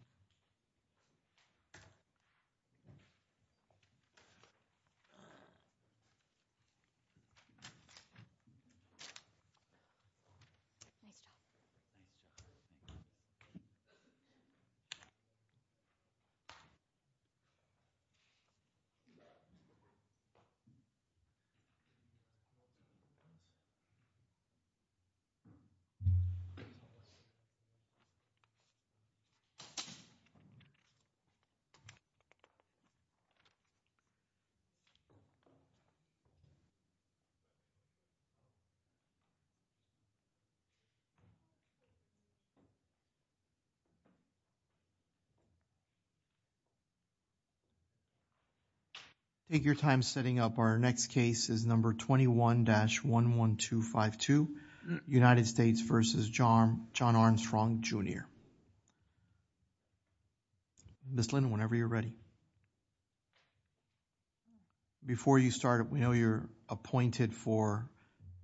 Thank you for your time. Thank you. Thank you. Thank you. Ms. Linnon, whenever you're ready. Before you start, we know you're appointed for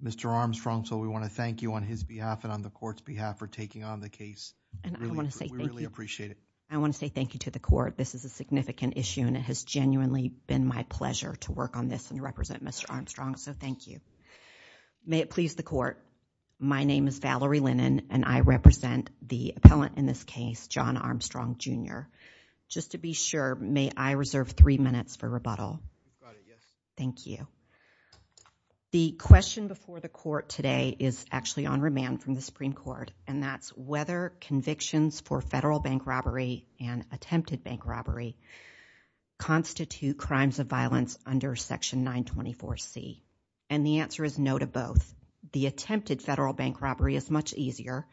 Mr. Armstrong, so we want to thank you on his behalf and on the court's behalf for taking on the case. I want to say thank you. We really appreciate it. I want to say thank you to the court. This is a significant issue and it has genuinely been my pleasure to work on this and represent Mr. Armstrong. So, thank you. May it please the court, my name is Valerie Linnon and I represent the appellant in this case, John Armstrong, Jr. Just to be sure, may I reserve three minutes for rebuttal? Thank you. The question before the court today is actually on remand from the Supreme Court and that's whether convictions for federal bank robbery and attempted bank robbery constitute crimes of violence under Section 924C. And the answer is no to both. The attempted federal bank robbery is much easier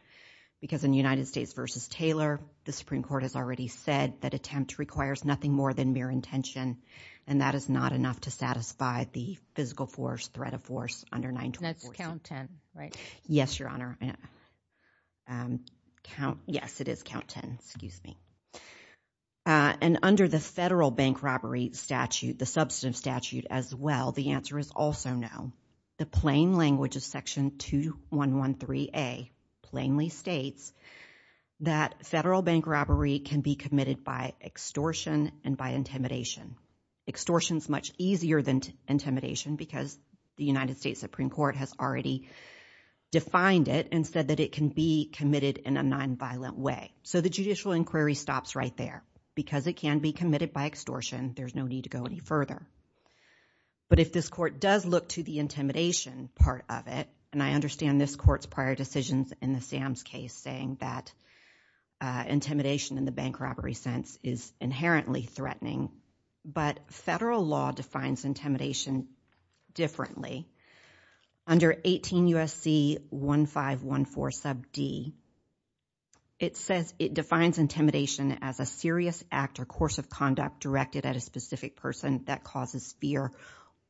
because in United States v. Taylor, the Supreme Court has already said that attempt requires nothing more than mere intention and that is not enough to satisfy the physical force, threat of force under 924C. That's count 10, right? Yes, Your Honor. Yes, it is count 10, excuse me. And under the federal bank robbery statute, the substantive statute as well, the answer is also no. The plain language of Section 2113A plainly states that federal bank robbery can be committed by extortion and by intimidation. Extortion is much easier than intimidation because the United States Supreme Court has already defined it and said that it can be committed in a nonviolent way. So the judicial inquiry stops right there. Because it can be committed by extortion, there's no need to go any further. But if this court does look to the intimidation part of it, and I understand this court's prior decisions in the Sam's case saying that intimidation in the bank robbery sense is inherently threatening, but federal law defines intimidation differently. Under 18 U.S.C. 1514 sub D, it says it defines intimidation as a serious act or course of action by a person that causes fear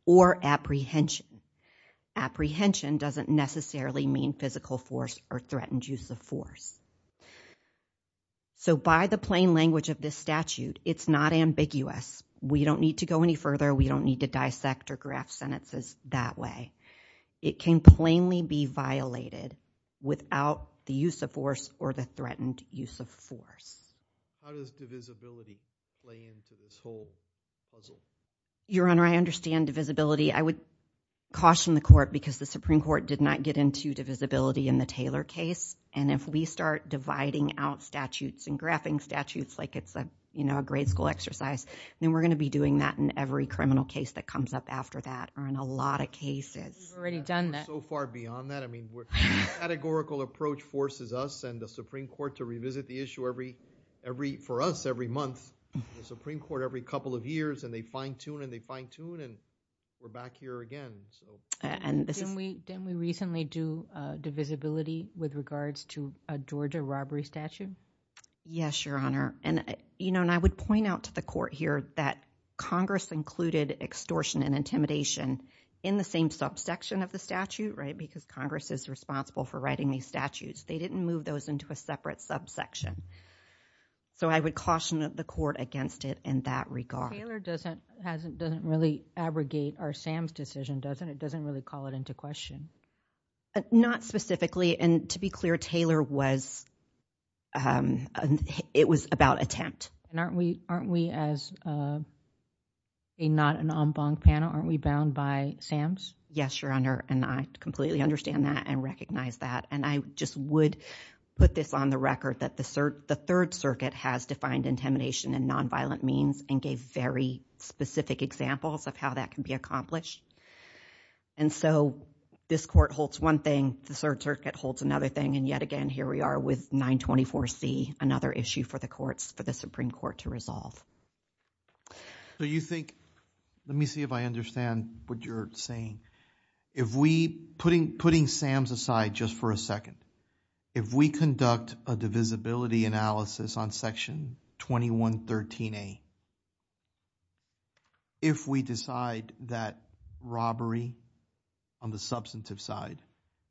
or apprehension. Apprehension doesn't necessarily mean physical force or threatened use of force. So by the plain language of this statute, it's not ambiguous. We don't need to go any further. We don't need to dissect or graph sentences that way. It can plainly be violated without the use of force or the threatened use of force. How does divisibility play into this whole puzzle? Your Honor, I understand divisibility. I would caution the court because the Supreme Court did not get into divisibility in the Taylor case. And if we start dividing out statutes and graphing statutes like it's a grade school exercise, then we're going to be doing that in every criminal case that comes up after that or in a lot of cases. We've already done that. We're so far beyond that. I mean the categorical approach forces us and the Supreme Court to revisit the issue for us every month. The Supreme Court every couple of years and they fine tune and they fine tune and we're back here again. Didn't we recently do divisibility with regards to a Georgia robbery statute? Yes, Your Honor. I would point out to the court here that Congress included extortion and intimidation in the same subsection of the statute because Congress is responsible for writing these statutes. They didn't move those into a separate subsection. So I would caution the court against it in that regard. Taylor doesn't really abrogate our Sam's decision, doesn't it? It doesn't really call it into question. Not specifically. And to be clear, Taylor was, it was about attempt. And aren't we as a not an en banc panel, aren't we bound by Sam's? Yes, Your Honor. And I completely understand that and recognize that. And I just would put this on the record that the Third Circuit has defined intimidation and nonviolent means and gave very specific examples of how that can be accomplished. And so this court holds one thing, the Third Circuit holds another thing and yet again here we are with 924C, another issue for the courts, for the Supreme Court to resolve. So you think, let me see if I understand what you're saying. If we, putting Sam's aside just for a second, if we conduct a divisibility analysis on section 2113A, if we decide that robbery on the substantive side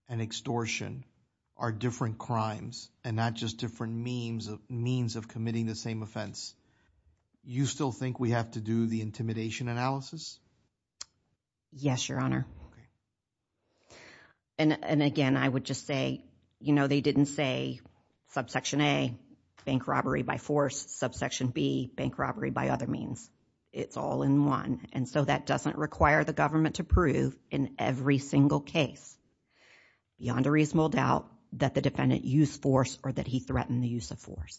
and extortion are different crimes and not just different means of committing the same offense, you still think we have to do the intimidation analysis? Yes, Your Honor. And again, I would just say, you know, they didn't say subsection A, bank robbery by force, subsection B, bank robbery by other means. It's all in one. And so that doesn't require the government to prove in every single case beyond a reasonable doubt that the defendant used force or that he threatened the use of force.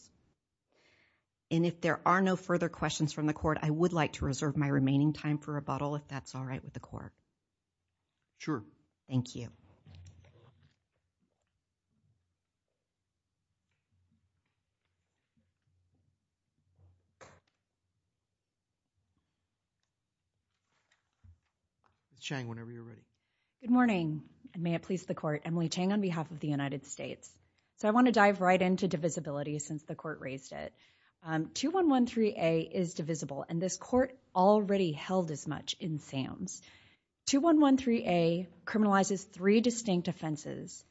And if there are no further questions from the court, I would like to reserve my remaining time for rebuttal if that's all right with the court. Sure. Thank you. Chang, whenever you're ready. Good morning. And may it please the court. Emily Chang on behalf of the United States. So I want to dive right into divisibility since the court raised it. 2113A is divisible, and this court already held as much in SAMS. 2113A criminalizes three distinct offenses,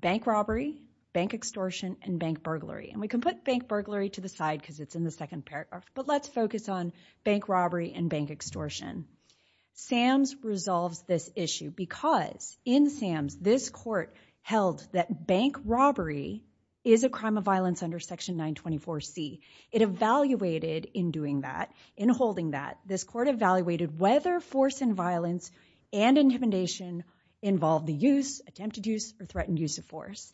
bank robbery, bank extortion, and bank burglary. And we can put bank burglary to the side because it's in the second paragraph, but let's focus on bank robbery and bank extortion. SAMS resolves this issue because in SAMS, this court held that bank robbery is a crime of violence under Section 924C. It evaluated in doing that, in holding that, this court evaluated whether force and violence and intimidation involved the use, attempted use, or threatened use of force.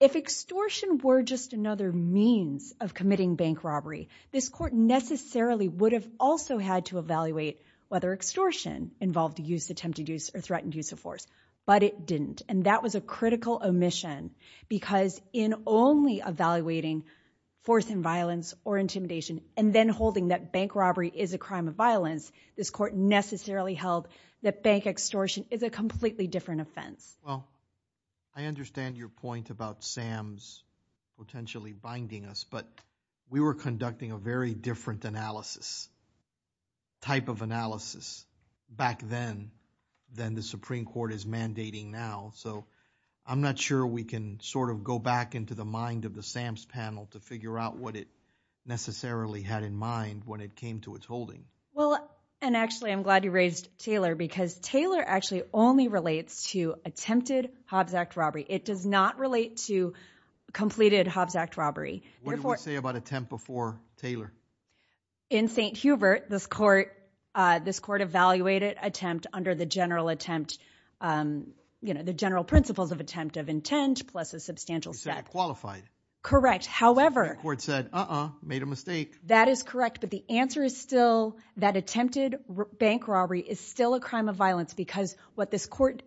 If extortion were just another means of committing bank robbery, this court necessarily would have also had to evaluate whether extortion involved the use, attempted use, or threatened use of force. But it didn't. And that was a critical omission because in only evaluating force and violence or intimidation and then holding that bank robbery is a crime of violence, this court necessarily held that bank extortion is a completely different offense. Well, I understand your point about SAMS potentially binding us, but we were conducting a very different analysis, type of analysis back then than the Supreme Court is mandating now. So I'm not sure we can sort of go back into the mind of the SAMS panel to figure out what it necessarily had in mind when it came to its holding. Well, and actually I'm glad you raised Taylor because Taylor actually only relates to attempted Hobbs Act robbery. It does not relate to completed Hobbs Act robbery. What did we say about attempt before Taylor? In St. Hubert, this court evaluated attempt under the general attempt, you know, the general principles of attempt of intent plus a substantial step. You said it qualified. Correct. However. The Supreme Court said, uh-uh, made a mistake. That is correct. But the answer is still that attempted bank robbery is still a crime of violence because what this court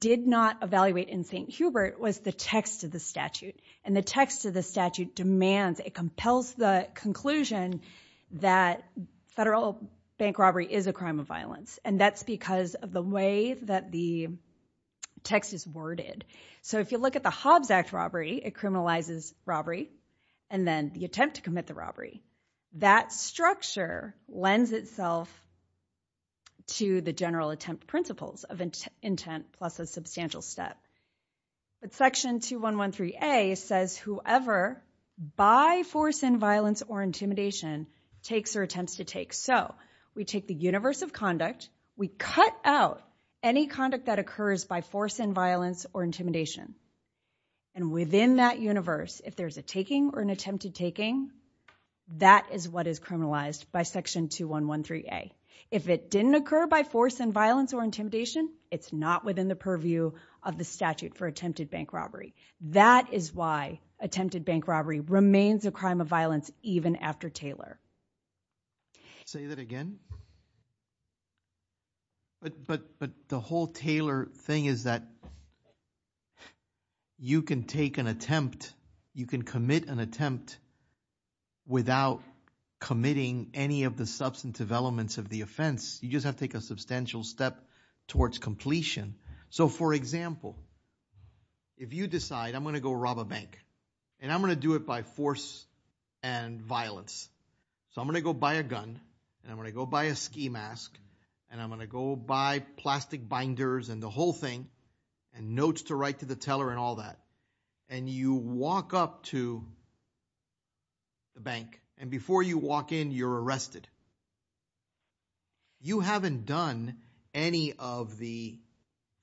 did not evaluate in St. Hubert was the text of the statute. And the text of the statute demands, it compels the conclusion that federal bank robbery is a crime of violence. And that's because of the way that the text is worded. So if you look at the Hobbs Act robbery, it criminalizes robbery and then the attempt to commit the robbery. That structure lends itself to the general attempt principles of intent plus a substantial step. But section 2113A says whoever by force and violence or intimidation takes or attempts to take. So we take the universe of conduct. We cut out any conduct that occurs by force and violence or intimidation. And within that universe, if there's a taking or an attempted taking, that is what is criminalized by section 2113A. If it didn't occur by force and violence or intimidation, it's not within the purview of the statute for attempted bank robbery. That is why attempted bank robbery remains a crime of violence even after Taylor. Say that again? But the whole Taylor thing is that you can take an attempt, you can commit an attempt without committing any of the substantive elements of the offense. You just have to take a substantial step towards completion. So for example, if you decide I'm going to go rob a bank and I'm going to do it by force and violence. So I'm going to go buy a gun and I'm going to go buy a ski mask and I'm going to go buy plastic binders and the whole thing and notes to write to the teller and all that. And you walk up to the bank and before you walk in, you're arrested. You haven't done any of the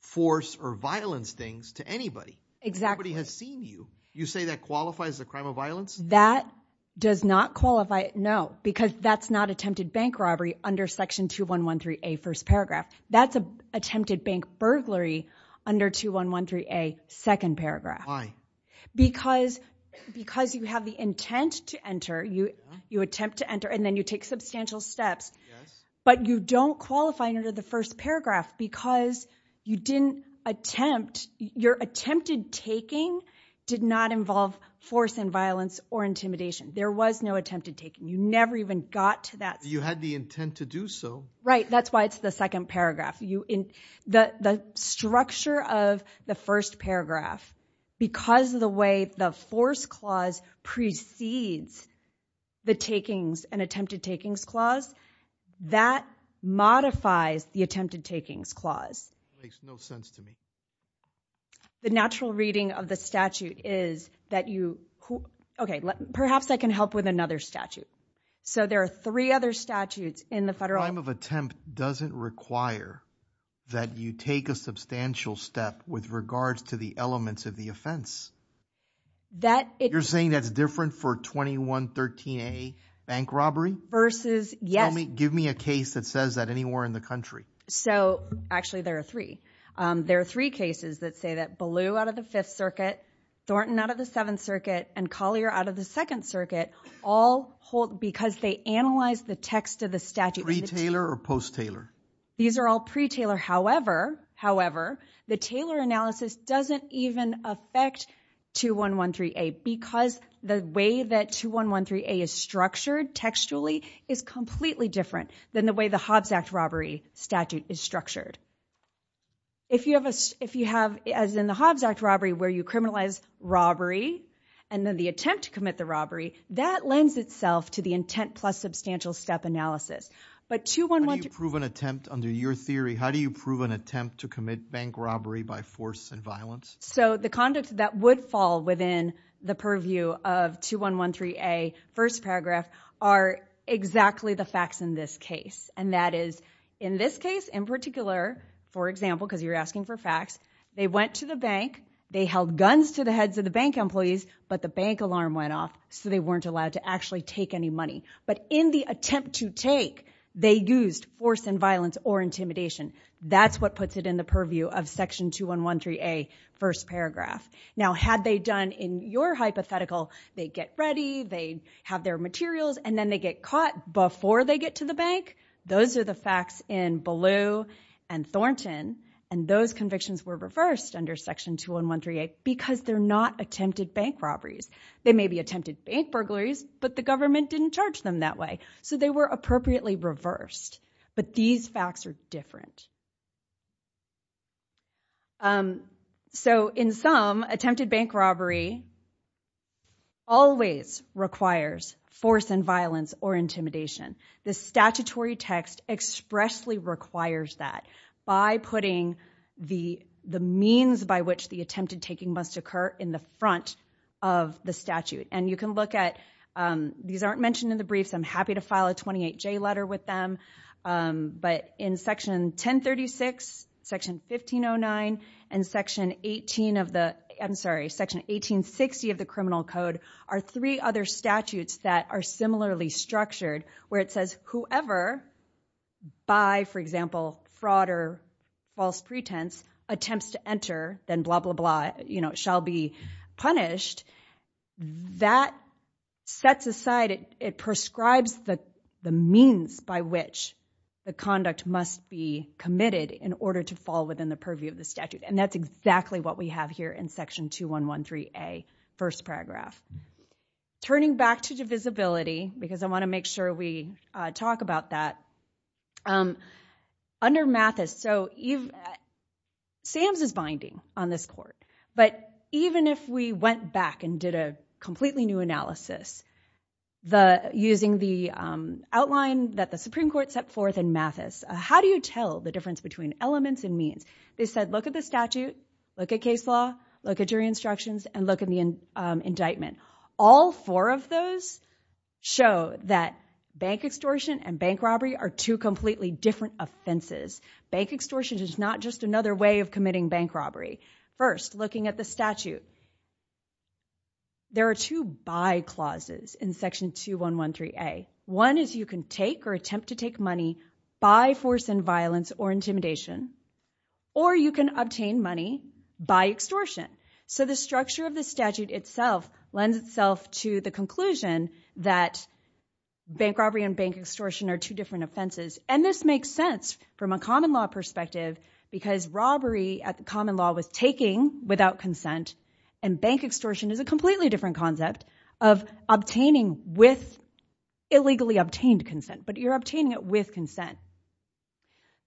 force or violence things to anybody. Exactly. Nobody has seen you. You say that qualifies as a crime of violence? That does not qualify, no. Because that's not attempted bank robbery under section 2113A first paragraph. That's attempted bank burglary under 2113A second paragraph. Why? Because you have the intent to enter, you attempt to enter and then you take substantial steps but you don't qualify under the first paragraph because you didn't attempt. Your attempted taking did not involve force and violence or intimidation. There was no attempted taking. You never even got to that. You had the intent to do so. Right. That's why it's the second paragraph. The structure of the first paragraph, because of the way the force clause precedes the takings and attempted takings clause, that modifies the attempted takings clause. It makes no sense to me. The natural reading of the statute is that you, okay, perhaps I can help with another statute. So there are three other statutes in the federal- That doesn't require that you take a substantial step with regards to the elements of the offense. That it- You're saying that's different for 2113A bank robbery? Versus, yes- Tell me, give me a case that says that anywhere in the country. So actually there are three. There are three cases that say that Ballew out of the Fifth Circuit, Thornton out of the Seventh Circuit and Collier out of the Second Circuit all hold, because they analyzed the text of the statute- Pre-Taylor or post-Taylor? These are all pre-Taylor, however, the Taylor analysis doesn't even affect 2113A because the way that 2113A is structured textually is completely different than the way the Hobbs Act robbery statute is structured. If you have, as in the Hobbs Act robbery, where you criminalize robbery and then the attempt to commit the robbery, that lends itself to the intent plus substantial step analysis. But 2113- How do you prove an attempt, under your theory, how do you prove an attempt to commit bank robbery by force and violence? So the conduct that would fall within the purview of 2113A, first paragraph, are exactly the facts in this case. And that is, in this case in particular, for example, because you're asking for facts, they went to the bank, they held guns to the heads of the bank employees, but the bank alarm went off so they weren't allowed to actually take any money. But in the attempt to take, they used force and violence or intimidation. That's what puts it in the purview of section 2113A, first paragraph. Now had they done, in your hypothetical, they get ready, they have their materials, and then they get caught before they get to the bank? Those are the facts in Ballou and Thornton, and those convictions were reversed under section 2113A because they're not attempted bank robberies. They may be attempted bank burglaries, but the government didn't charge them that way. So they were appropriately reversed. But these facts are different. So in sum, attempted bank robbery always requires force and violence or intimidation. The statutory text expressly requires that by putting the means by which the attempted taking must occur in the front of the statute. And you can look at, these aren't mentioned in the briefs, I'm happy to file a 28J letter with them, but in section 1036, section 1509, and section 1860 of the criminal code are three other statutes that are similarly structured, where it says whoever by, for example, fraud or false pretense attempts to enter, then blah, blah, blah, shall be punished. That sets aside, it prescribes the means by which the conduct must be committed in order to fall within the purview of the statute. And that's exactly what we have here in section 2113A, first paragraph. Turning back to divisibility, because I want to make sure we talk about that. Under Mathis, so Sam's is binding on this court, but even if we went back and did a completely new analysis, using the outline that the Supreme Court set forth in Mathis, how do you tell the difference between elements and means? They said, look at the statute, look at case law, look at jury instructions, and look at the indictment. All four of those show that bank extortion and bank robbery are two completely different offenses. Bank extortion is not just another way of committing bank robbery. First, looking at the statute, there are two by clauses in section 2113A. One is you can take or attempt to take money by force and violence or intimidation, or you can obtain money by extortion. So the structure of the statute itself lends itself to the conclusion that bank robbery and bank extortion are two different offenses. And this makes sense from a common law perspective, because robbery at the common law was taking without consent, and bank extortion is a completely different concept of obtaining with illegally obtained consent, but you're obtaining it with consent.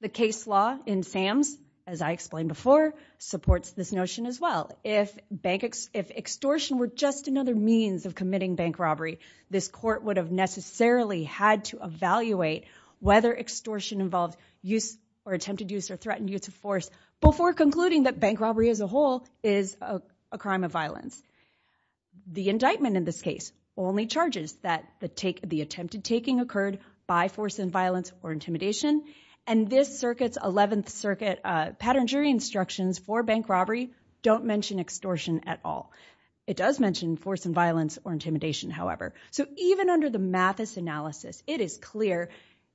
The case law in SAMS, as I explained before, supports this notion as well. If bank extortion were just another means of committing bank robbery, this court would have necessarily had to evaluate whether extortion involved use or attempted use or threatened use of force before concluding that bank robbery as a whole is a crime of violence. The indictment in this case only charges that the attempted taking occurred by force and violence or intimidation, and this circuit's 11th Circuit pattern jury instructions for bank robbery don't mention extortion at all. It does mention force and violence or intimidation, however. So even under the Mathis analysis, it is clear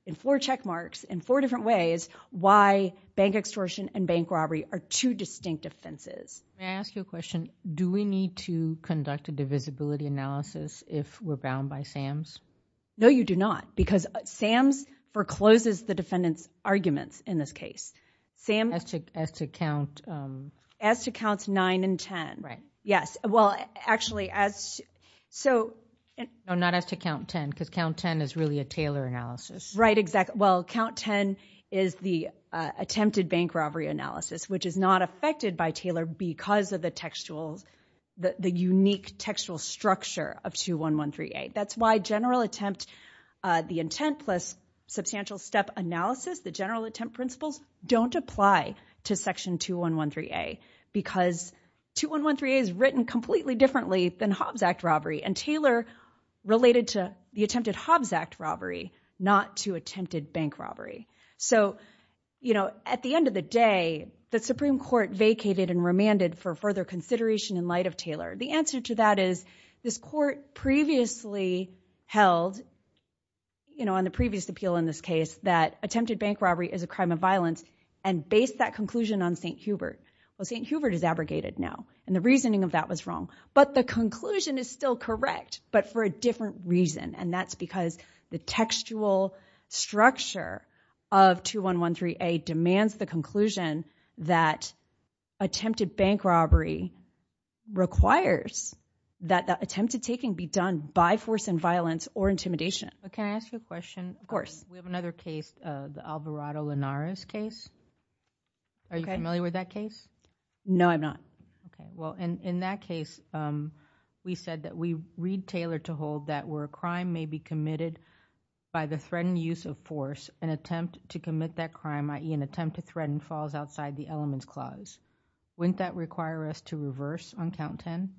in four check marks, in four different ways, why bank extortion and bank robbery are two distinct offenses. Can I ask you a question? Do we need to conduct a divisibility analysis if we're bound by SAMS? No, you do not, because SAMS forecloses the defendant's arguments in this case. As to counts 9 and 10. Right. Yes. Well, actually, as so... No, not as to count 10, because count 10 is really a Taylor analysis. Right, exactly. Well, count 10 is the attempted bank robbery analysis, which is not affected by Taylor because of the textuals, the unique textual structure of 21138. That's why general attempt, the intent plus substantial step analysis, the general attempt principles don't apply to section 2113A, because 2113A is written completely differently than Hobbs Act robbery, and Taylor related to the attempted Hobbs Act robbery, not to attempted bank robbery. So, you know, at the end of the day, the Supreme Court vacated and remanded for further consideration in light of Taylor. The answer to that is, this court previously held, you know, on the previous appeal in this case, that attempted bank robbery is a crime of violence, and based that conclusion on St. Hubert. Well, St. Hubert is abrogated now, and the reasoning of that was wrong. But the conclusion is still correct, but for a different reason. And that's because the textual structure of 2113A demands the conclusion that attempted bank robbery requires that the attempt to take and be done by force and violence or intimidation. Can I ask you a question? Of course. We have another case, the Alvarado-Linares case. Are you familiar with that case? No, I'm not. Okay. Well, in that case, we said that we read Taylor to hold that where a crime may be committed by the threatened use of force, an attempt to commit that crime, i.e., an attempt to threaten falls outside the elements clause. Wouldn't that require us to reverse on count 10?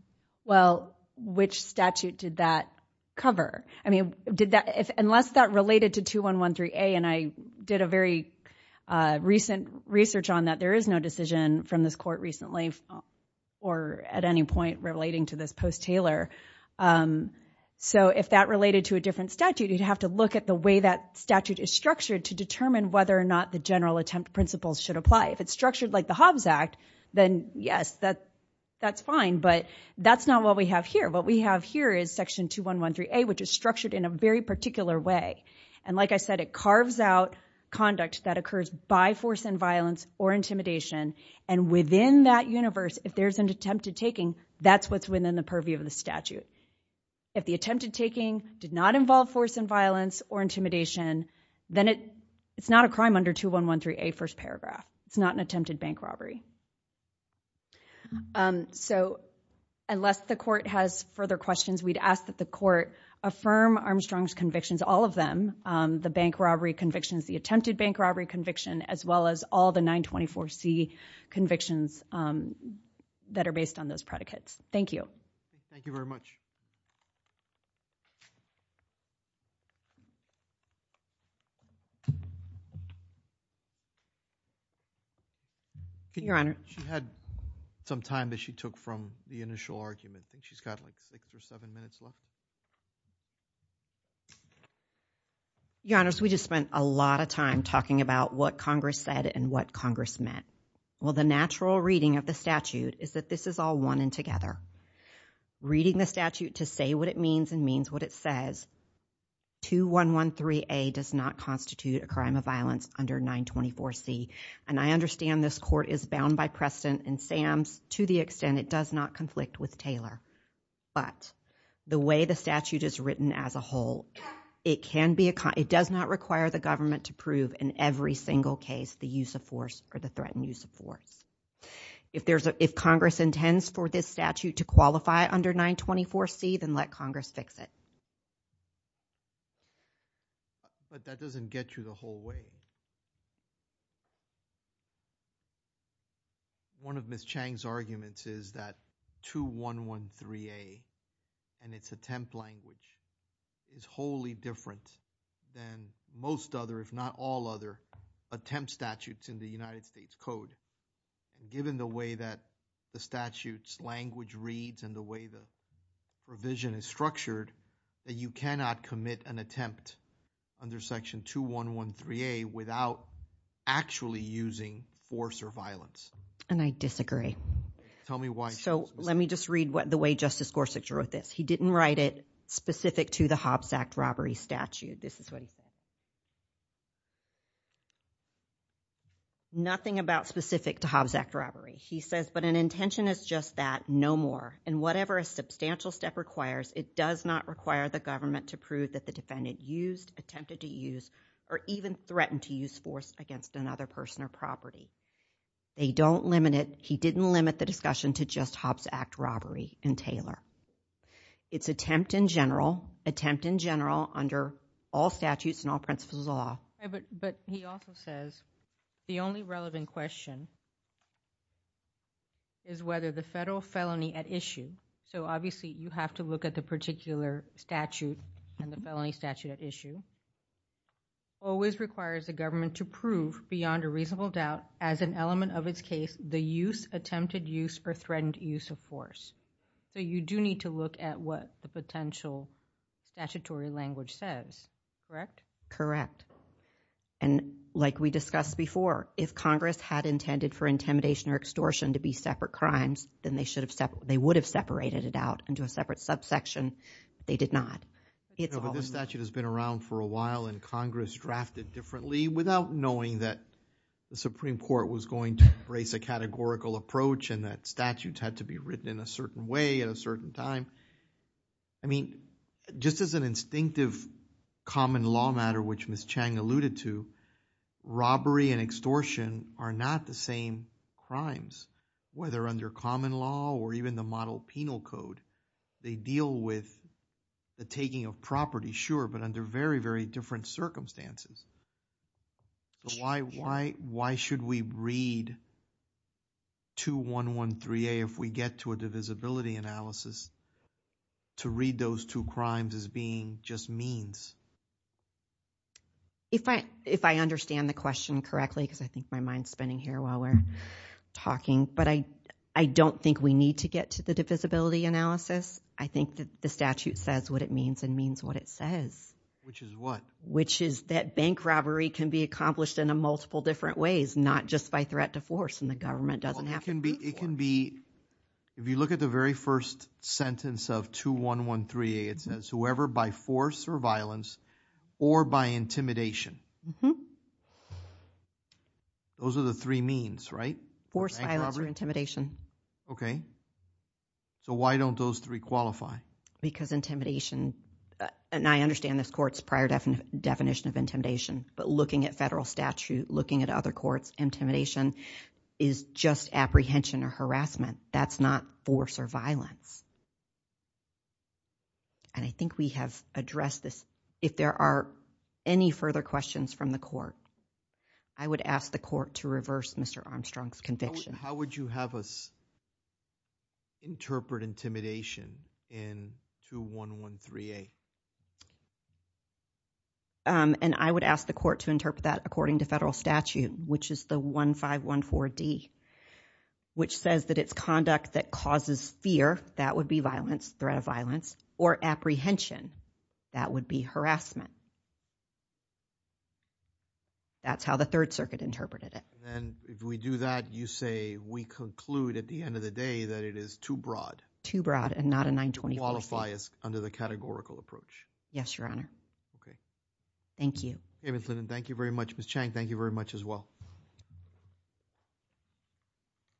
Well, which statute did that cover? I mean, unless that related to 2113A, and I did a very recent research on that. There is no decision from this court recently or at any point relating to this post-Taylor. So if that related to a different statute, you'd have to look at the way that statute is structured to determine whether or not the general attempt principles should apply. If it's structured like the Hobbs Act, then yes, that's fine, but that's not what we have here. What we have here is section 2113A, which is structured in a very particular way. And like I said, it carves out conduct that occurs by force and violence or intimidation, and within that universe, if there's an attempt to taking, that's what's within the purview of the statute. If the attempted taking did not involve force and violence or intimidation, then it's not a crime under 2113A, first paragraph. It's not an attempted bank robbery. So unless the court has further questions, we'd ask that the court affirm Armstrong's convictions, all of them, the bank robbery convictions, the attempted bank robbery conviction, as well as all the 924C convictions that are based on those predicates. Thank you. Thank you very much. Your Honor. She had some time that she took from the initial argument. I think she's got like six or seven minutes left. Your Honors, we just spent a lot of time talking about what Congress said and what Congress meant. Well, the natural reading of the statute is that this is all one and together. Reading the statute to say what it means and means what it says, 2113A does not constitute a crime of violence under 924C. And I understand this court is bound by precedent and SAMS to the extent it does not conflict with Taylor, but the way the statute is written as a whole, it does not require the government to prove in every single case the use of force or the threatened use of force. If Congress intends for this statute to qualify under 924C, then let Congress fix it. But that doesn't get you the whole way. One of Ms. Chang's arguments is that 2113A and its attempt language is wholly different than most other, if not all other, attempt statutes in the United States Code. Given the way that the statute's language reads and the way the provision is structured, that you cannot commit an attempt under Section 2113A without actually using force or violence. And I disagree. Tell me why. So, let me just read what the way Justice Gorsuch wrote this. He didn't write it specific to the Hobbs Act robbery statute, this is what he said. Nothing about specific to Hobbs Act robbery. He says, but an intention is just that, no more. And whatever a substantial step requires, it does not require the government to prove that the defendant used, attempted to use, or even threatened to use force against another person or property. They don't limit it, he didn't limit the discussion to just Hobbs Act robbery and Taylor. It's attempt in general, attempt in general under all statutes and all principles of law. But he also says, the only relevant question is whether the federal felony at issue, so obviously you have to look at the particular statute and the felony statute at issue, always requires the government to prove beyond a reasonable doubt as an element of its case the use, attempted use, or threatened use of force. So, you do need to look at what the potential statutory language says, correct? Correct. And like we discussed before, if Congress had intended for intimidation or extortion to be separate crimes, then they would have separated it out into a separate subsection. They did not. But this statute has been around for a while and Congress drafted differently without knowing that the Supreme Court was going to embrace a categorical approach and that statutes had to be written in a certain way at a certain time. I mean, just as an instinctive common law matter which Ms. Chang alluded to, robbery and extortion are not the same crimes, whether under common law or even the model penal code. They deal with the taking of property, sure, but under very, very different circumstances. Why should we read 2113A if we get to a divisibility analysis to read those two crimes as being just means? If I understand the question correctly, because I think my mind is spinning here while we're talking, but I don't think we need to get to the divisibility analysis. I think that the statute says what it means and means what it says. Which is what? Which is that bank robbery can be accomplished in multiple different ways, not just by threat to force and the government doesn't have to. It can be, if you look at the very first sentence of 2113A, it says, whoever by force or violence or by intimidation. Those are the three means, right? Force, violence, or intimidation. Okay. So why don't those three qualify? Because intimidation, and I understand this court's prior definition of intimidation, but looking at federal statute, looking at other courts, intimidation is just apprehension or harassment. That's not force or violence. And I think we have addressed this. If there are any further questions from the court, I would ask the court to reverse Mr. Armstrong's conviction. How would you have us interpret intimidation in 2113A? And I would ask the court to interpret that according to federal statute, which is the 1514D, which says that it's conduct that causes fear, that would be violence, threat of violence, or apprehension, that would be harassment. That's how the Third Circuit interpreted it. And if we do that, you say we conclude at the end of the day that it is too broad. Too broad and not a 924. It qualifies under the categorical approach. Yes, Your Honor. Okay. Thank you. David Flynn, thank you very much. Ms. Chang, thank you very much as well.